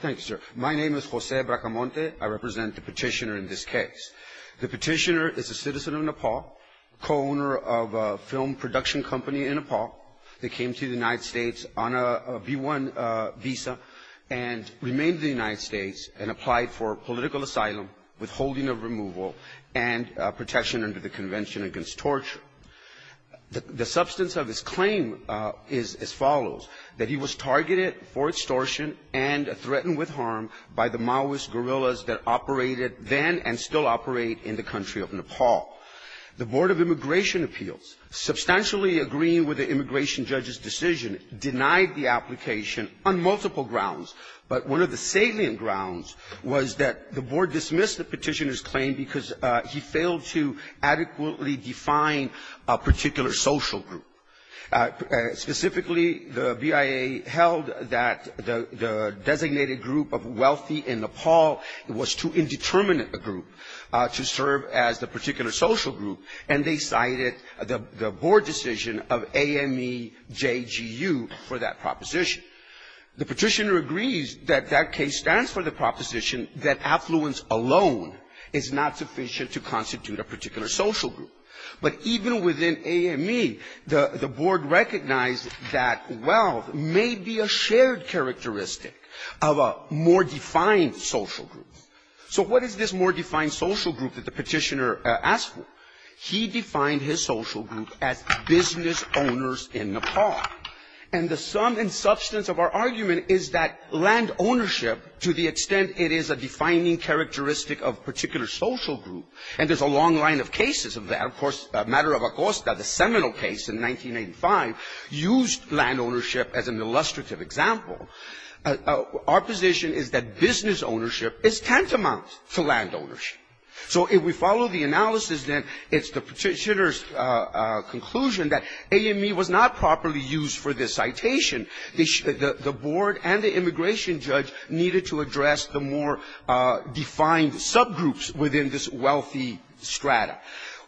Thank you, sir. My name is Jose Bracamonte. I represent the petitioner in this case. The petitioner is a citizen of Nepal, co-owner of a film production company in Nepal. They came to the United States on a B-1 visa and remained in the United States and applied for political asylum, withholding of removal, and protection under the Convention Against Torture. Now, the substance of his claim is as follows, that he was targeted for extortion and threatened with harm by the Maoist guerrillas that operated then and still operate in the country of Nepal. The Board of Immigration Appeals, substantially agreeing with the immigration judge's decision, denied the application on multiple grounds. But one of the salient grounds was that the board dismissed the petitioner's claim because he failed to adequately define a particular social group. Specifically, the BIA held that the designated group of wealthy in Nepal was too indeterminate a group to serve as the particular social group, and they cited the board decision of AMEJGU for that proposition. The petitioner agrees that that case stands for the sufficient to constitute a particular social group. But even within AME, the board recognized that wealth may be a shared characteristic of a more defined social group. So what is this more defined social group that the petitioner asked for? He defined his social group as business owners in Nepal. And the sum and substance of our argument is that land ownership, to the extent it is a defining characteristic of a particular social group, and there's a long line of cases of that. Of course, the matter of Acosta, the seminal case in 1985, used land ownership as an illustrative example. Our position is that business ownership is tantamount to land ownership. So if we follow the analysis, then it's the petitioner's conclusion that AME was not properly used for this citation. The board and the immigration judge needed to address the more defined subgroups within this wealthy strata.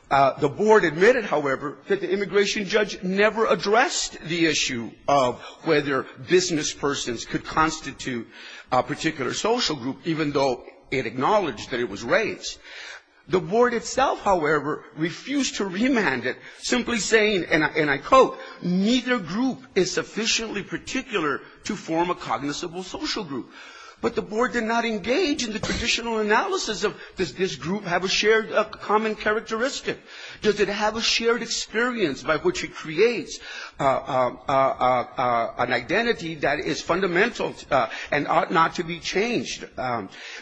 The board admitted, however, that the immigration judge never addressed the issue of whether businesspersons could constitute a particular social group, even though it acknowledged that it was simply saying, and I quote, neither group is sufficiently particular to form a cognizable social group. But the board did not engage in the traditional analysis of does this group have a shared common characteristic? Does it have a shared experience by which it creates an identity that is fundamental and ought not to be changed?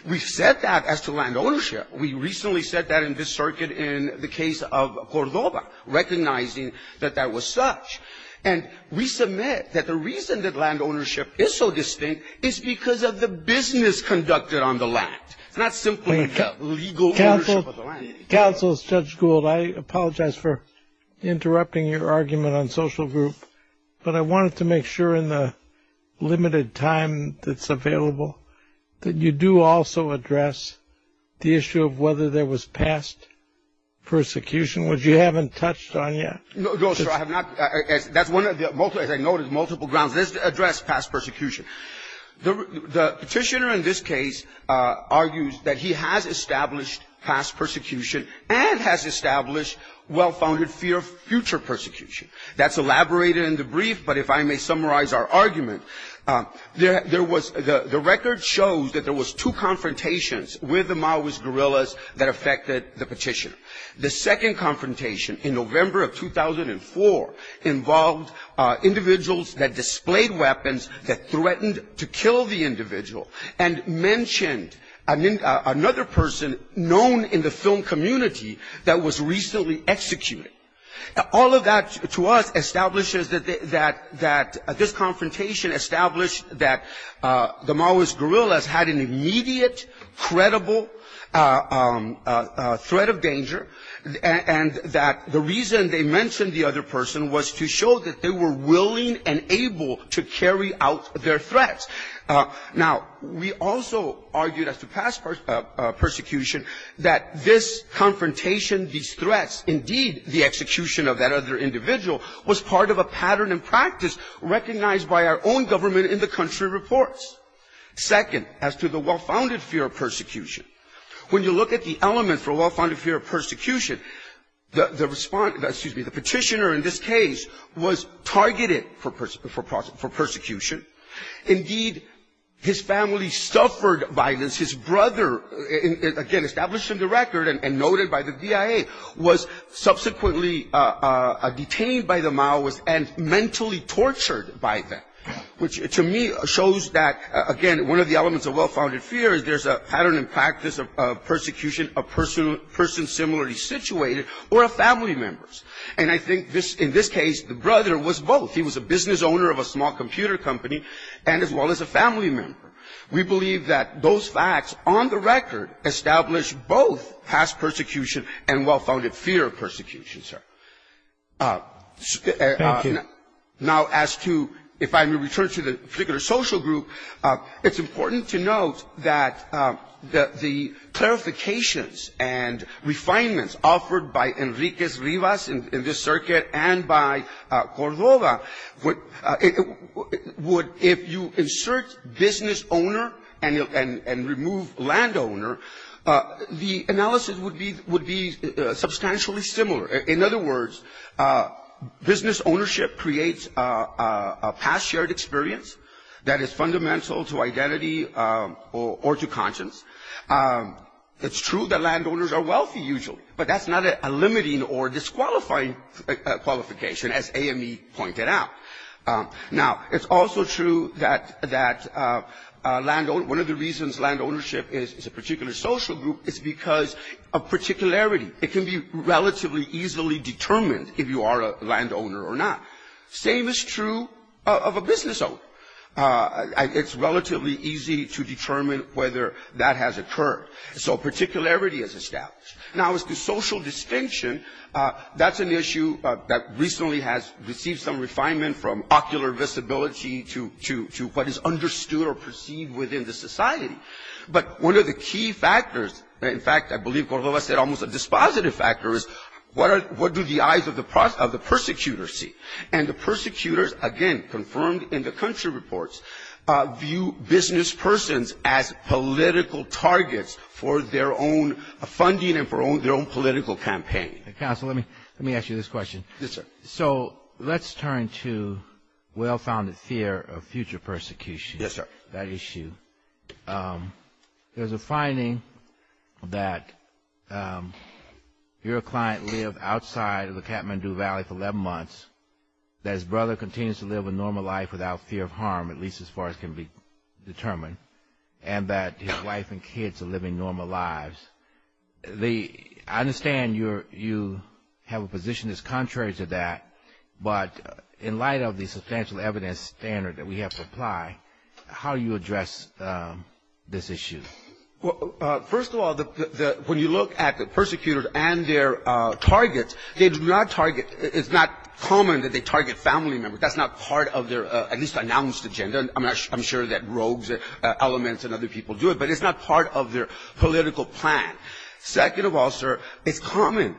We've said that as to land ownership. We recently said that in this circuit in the case of Cordoba, recognizing that that was such. And we submit that the reason that land ownership is so distinct is because of the business conducted on the land. It's not simply legal ownership of the land. Counsel, Judge Gould, I apologize for interrupting your argument on social group, but I wanted to make sure in the case of Cordoba that the board did not address the issue of whether there was past persecution, which you haven't touched on yet. No, sir, I have not. That's one of the multiple, as I noted, multiple grounds. Let's address past persecution. The petitioner in this case argues that he has established past persecution and has established well-founded fear of future persecution. That's elaborated in the brief, but if I may summarize our argument, there was the record shows that there was two confrontations with the Maui's guerrillas that affected the petitioner. The second confrontation in November of 2004 involved individuals that displayed weapons that threatened to kill the individual and mentioned another person known in the film community that was recently executed. All of that to us establishes that this confrontation established that the Maui's guerrillas had an immediate, credible threat of danger, and that the reason they mentioned the other person was to show that they were willing and able to carry out their threats. Now, we also argued as to past persecution that this confrontation, these threats, indeed the execution of that other individual was part of a pattern and practice recognized by our own government in the country reports. Second, as to the well-founded fear of persecution, when you look at the element for well-founded fear of persecution, the respondent, excuse me, the petitioner in this case was targeted for persecution. Indeed, his family suffered violence. His brother, again, established in the record and noted by the DIA, was subsequently detained by the Maui's and mentally tortured by them, which to me shows that, again, one of the elements of well-founded fear is there's a pattern and practice of persecution of persons similarly situated or of family members. And I think in this case, the brother was both. He was a business owner of a small computer company and as well as a family member. We believe that those facts on the record establish both past persecution and well-founded fear of persecution, sir. Now, as to, if I may return to the particular social group, it's important to note that the clarifications and refinements offered by Enrique Rivas in this circuit and by Cordova would, if you insert business owners and remove landowner, the analysis would be substantially similar. In other words, business ownership creates a past shared experience that is fundamental to identity or to conscience. It's true that landowners are wealthy usually, but that's not a limiting or disqualifying qualification, as AME pointed out. Now, it's also true that landowner, one of the reasons landownership is a particular social group is because of particularity. It can be relatively easily determined if you are a landowner or not. Same is true of a business owner. It's relatively easy to determine whether that has occurred. So particularity is established. Now, as to social distinction, that's an issue that recently has received some refinement from ocular visibility to what is understood or perceived within the society. But one of the key factors, in fact, I believe Cordova said almost a dispositive factor, is what do the eyes of the persecutors see? And the persecutors, again, confirmed in the country reports, view business persons as political targets for their own funding and for their own political campaign. Well-founded fear of future persecution, that issue. There's a finding that if your client lived outside of the Kathmandu Valley for 11 months, that his brother continues to live a normal life without fear of harm, at least as far as can be determined, and that his wife and kids are living normal lives. I understand you have a position that's contrary to that, but in light of the fact that you have a substantial evidence standard that we have to apply, how do you address this issue? First of all, when you look at the persecutors and their targets, they do not target, it's not common that they target family members. That's not part of their at least announced agenda. I'm sure that rogues, elements and other people do it, but it's not part of their political plan. Second of all, sir, it's common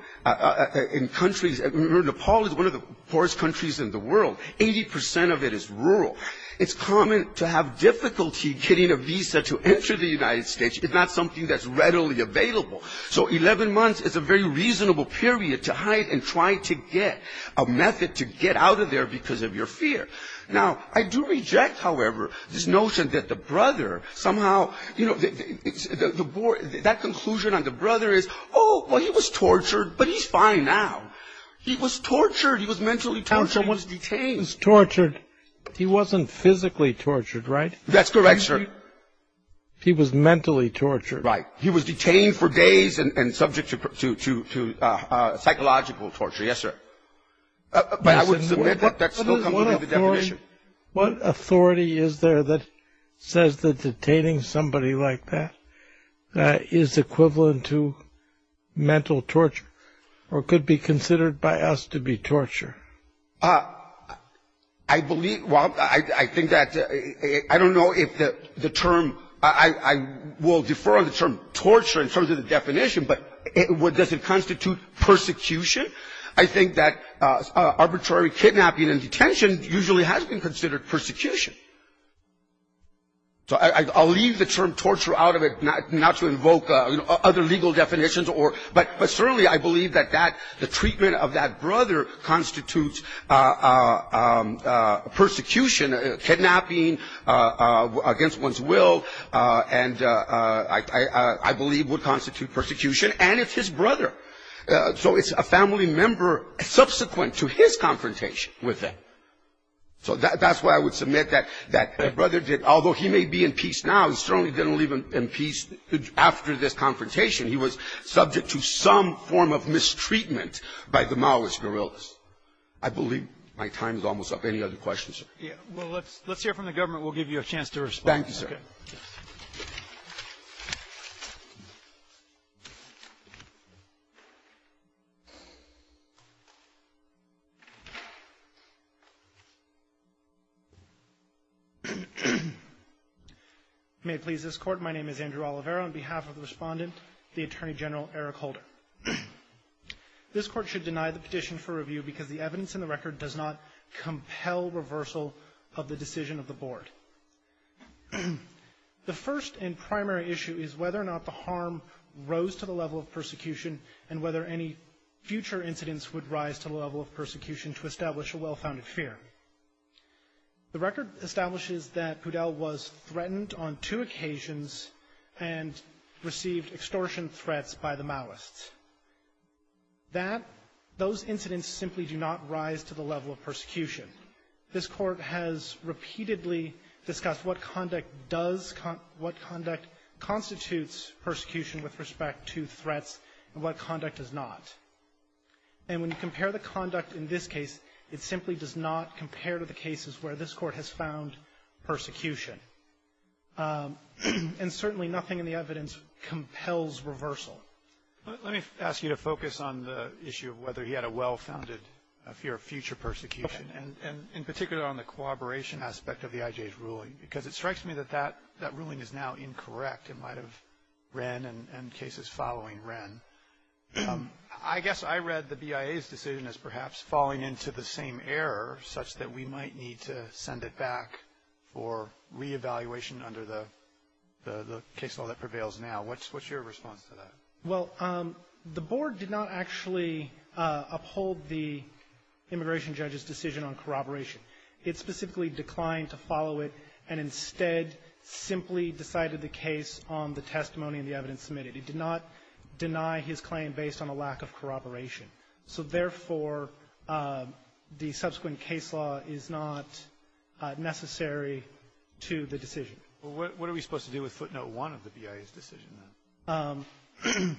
in countries, Nepal is one of the poorest countries in the world, 80 percent of it is rural. It's common to have difficulty getting a visa to enter the United States, if not something that's readily available. So 11 months is a very reasonable period to hide and try to get a method to get out of there because of your fear. Now, I do reject, however, this notion that the brother somehow, you know, the board, that conclusion I just made, the brother is, oh, well, he was tortured, but he's fine now. He was tortured. He was mentally tortured. He was detained. He was tortured. He wasn't physically tortured, right? That's correct, sir. He was mentally tortured. Right. He was detained for days and subject to psychological torture. Yes, sir. But I would submit that that's not completely the definition. What authority is there that says that detaining somebody like that is equivalent to mental torture or could be considered by us to be torture? I believe, well, I think that, I don't know if the term, I will defer on the term torture. In terms of the definition, but does it constitute persecution? I think that arbitrary kidnapping and detention usually has been considered persecution. So I'll leave the term torture out of it, not to invoke other legal definitions, but certainly I believe that the treatment of that brother constitutes persecution, kidnapping against one's will. I believe would constitute persecution, and it's his brother. So it's a family member subsequent to his confrontation with them. So that's why I would submit that that brother did, although he may be in peace now, he certainly didn't leave him in peace after this confrontation. He was subject to some form of mistreatment by the Maoist guerrillas. I believe my time is almost up. Any other questions? Roberts. Let's hear from the government. We'll give you a chance to respond. Thank you, sir. May it please this Court. My name is Andrew Oliveira. On behalf of the Respondent, the Attorney General, Eric Holder. This Court should deny the petition for review because the evidence in the record does not compel reversal of the decision of the Board. The first and primary issue is whether or not the harm rose to the level of persecution and whether any future incidents would rise to the level of persecution to establish a well-founded fear. The record establishes that Poudel was threatened on two occasions and received extortion threats by the Maoists. Those incidents simply do not rise to the level of persecution. This Court has repeatedly discussed what conduct constitutes persecution with respect to threats and what conduct does not. And when you compare the conduct in this case, it simply does not compare to the cases where this Court has found persecution. And certainly nothing in the evidence compels reversal. Let me ask you to focus on the issue of whether he had a well-founded fear of future persecution, and in particular on the cooperation aspect of the IJ's ruling, because it strikes me that that ruling is now incorrect in light of Wren and cases following Wren. I guess I read the BIA's decision as perhaps falling into the same error such that we might need to send it back for reevaluation under the case law that prevails now. What's your response to that? Well, the Board did not actually uphold the immigration judge's decision on corroboration. It specifically declined to follow it and instead simply decided the case on the testimony and the evidence submitted. It did not deny his claim based on a lack of corroboration. So therefore, the subsequent case law is not necessary to the decision. Well, what are we supposed to do with footnote 1 of the BIA's decision, then?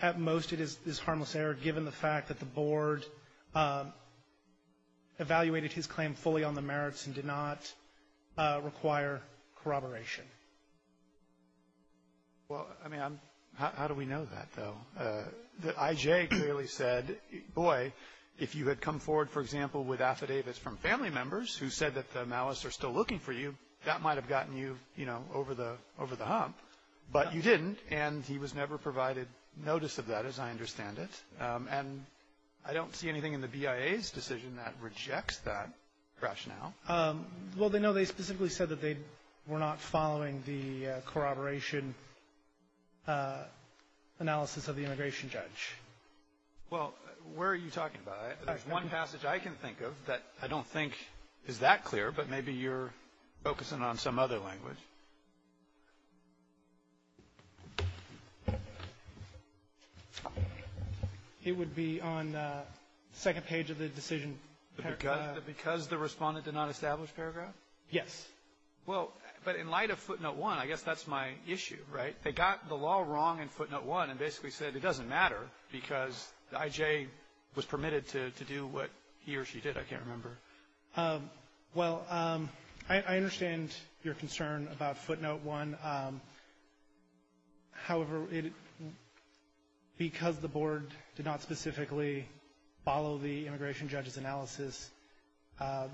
At most, it is harmless error given the fact that the Board evaluated his claim fully on the merits and did not require corroboration. Well, I mean, how do we know that, though? That I.J. clearly said, boy, if you had come forward, for example, with affidavits from family members who said that the Malas are still looking for you, that might have gotten you, you know, over the hump, but you didn't, and he was never provided notice of that, as I understand it. And I don't see anything in the BIA's decision that rejects that rationale. Well, they know they specifically said that they were not following the corroboration analysis of the immigration judge. Well, where are you talking about? There's one passage I can think of that I don't think is that clear, but maybe you're focusing on some other language. It would be on the second page of the decision paragraph. Because the Respondent did not establish paragraph? Yes. Well, but in light of footnote 1, I guess that's my issue, right? They got the law wrong in footnote 1 and basically said it doesn't matter because I.J. was permitted to do what he or she did, I can't remember. Well, I understand your concern about footnote 1. However, because the Board did not specifically follow the immigration judge's analysis,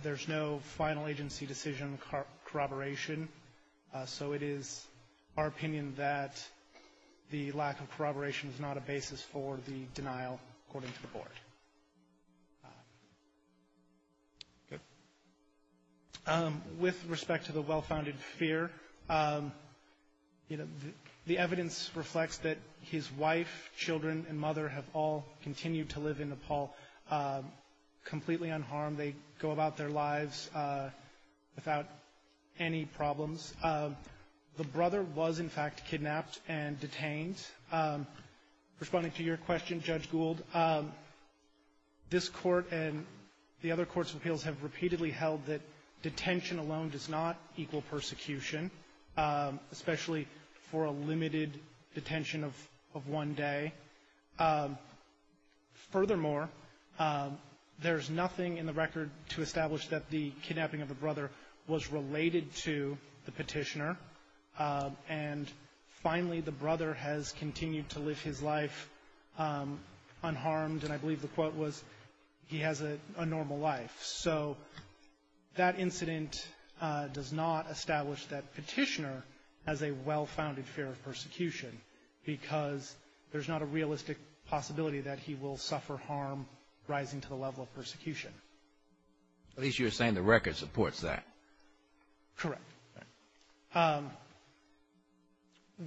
there's no final agency decision corroboration. So it is our opinion that the lack of corroboration is not a basis for the denial, according to the Board. With respect to the well-founded fear, the evidence reflects that his wife, children, and mother have all continued to live in Nepal completely unharmed. They go about their lives without any problems. The brother was, in fact, kidnapped and detained. Responding to your question, Judge Gould, this Court and the other courts' appeals have repeatedly held that detention alone does not equal persecution, especially for a limited detention of one day. Furthermore, there's nothing in the record to establish that the kidnapping of the brother was related to the petitioner, and finally the brother has continued to live his life unharmed, and I believe the quote was, he has a normal life. So that incident does not establish that petitioner has a well-founded fear of persecution because there's not a realistic possibility that he will suffer harm rising to the level of persecution. At least you're saying the record supports that. Correct.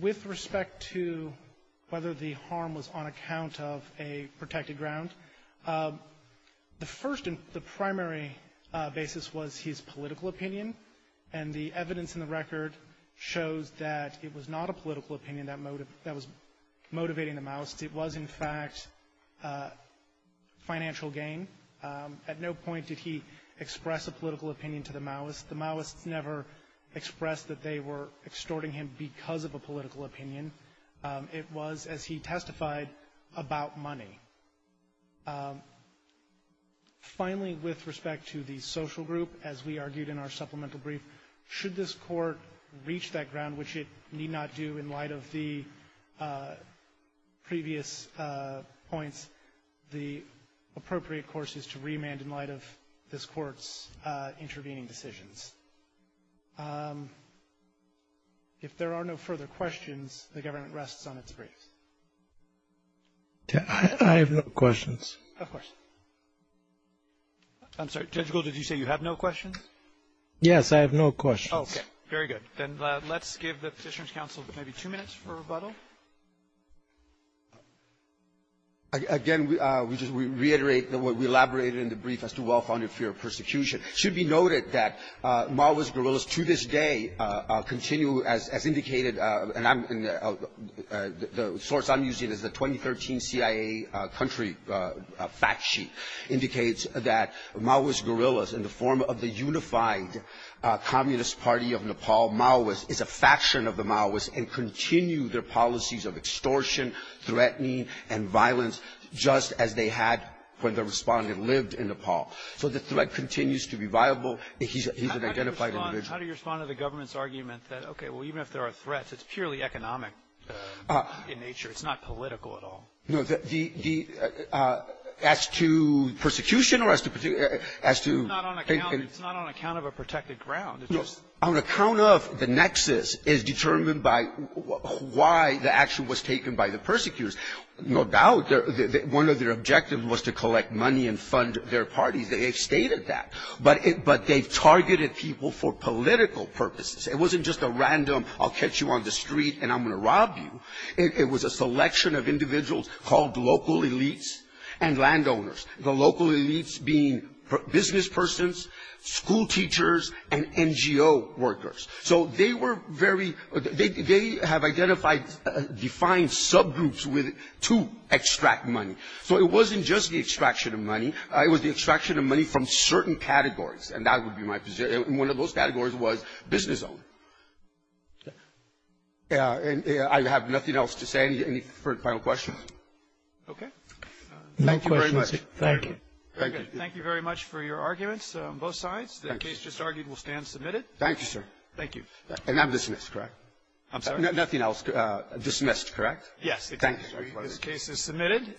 With respect to whether the harm was on account of a protected ground, the first and the primary basis was his political opinion, and the evidence in the record shows that it was not a political opinion that was motivating the Maoists. It was, in fact, financial gain. At no point did he express a political opinion to the Maoists. The Maoists never expressed that they were extorting him because of a political opinion. It was, as he testified, about money. Finally, with respect to the social group, as we argued in our supplemental brief, should this Court reach that ground, which it need not do in light of the previous points, the appropriate course is to remand in light of this Court's intervening decisions. If there are no further questions, the government rests on its briefs. I have no questions. Of course. I'm sorry. Judge Gould, did you say you have no questions? Yes, I have no questions. Okay. Very good. Then let's give the Petitioners' Counsel maybe two minutes for rebuttal. Again, we just reiterate what we elaborated in the brief as to well-founded fear of persecution. It should be noted that Maoist guerrillas to this day continue, as indicated, and the source I'm using is the 2013 CIA country fact sheet, indicates that Maoist guerrillas in the form of the unified Communist Party of Nepal, Maoists, is a faction of the Maoists and continue their policies of extortion, threatening, and violence just as they had when the respondent lived in Nepal. So the threat continues to be viable. He's an identified individual. How do you respond to the government's argument that, okay, well, even if there are threats, it's purely economic in nature. It's not political at all. No. The as to persecution or as to the particular as to It's not on account of a protected ground. No. On account of the nexus is determined by why the action was taken by the persecutors. No doubt one of their objectives was to collect money and fund their parties. They've stated that. But they've targeted people for political purposes. It wasn't just a random I'll catch you on the street and I'm going to rob you. It was a selection of individuals called local elites and landowners, the local elites being businesspersons, schoolteachers, and NGO workers. So they were very they have identified defined subgroups to extract money. So it wasn't just the extraction of money. It was the extraction of money from certain categories. And that would be my position. And one of those categories was business owners. And I have nothing else to say. Any final questions? Okay. Thank you very much. Thank you. Thank you. Thank you very much for your arguments on both sides. The case just argued will stand submitted. Thank you, sir. Thank you. And I'm dismissed, correct? I'm sorry? Nothing else. Dismissed, correct? Thank you. This case is submitted.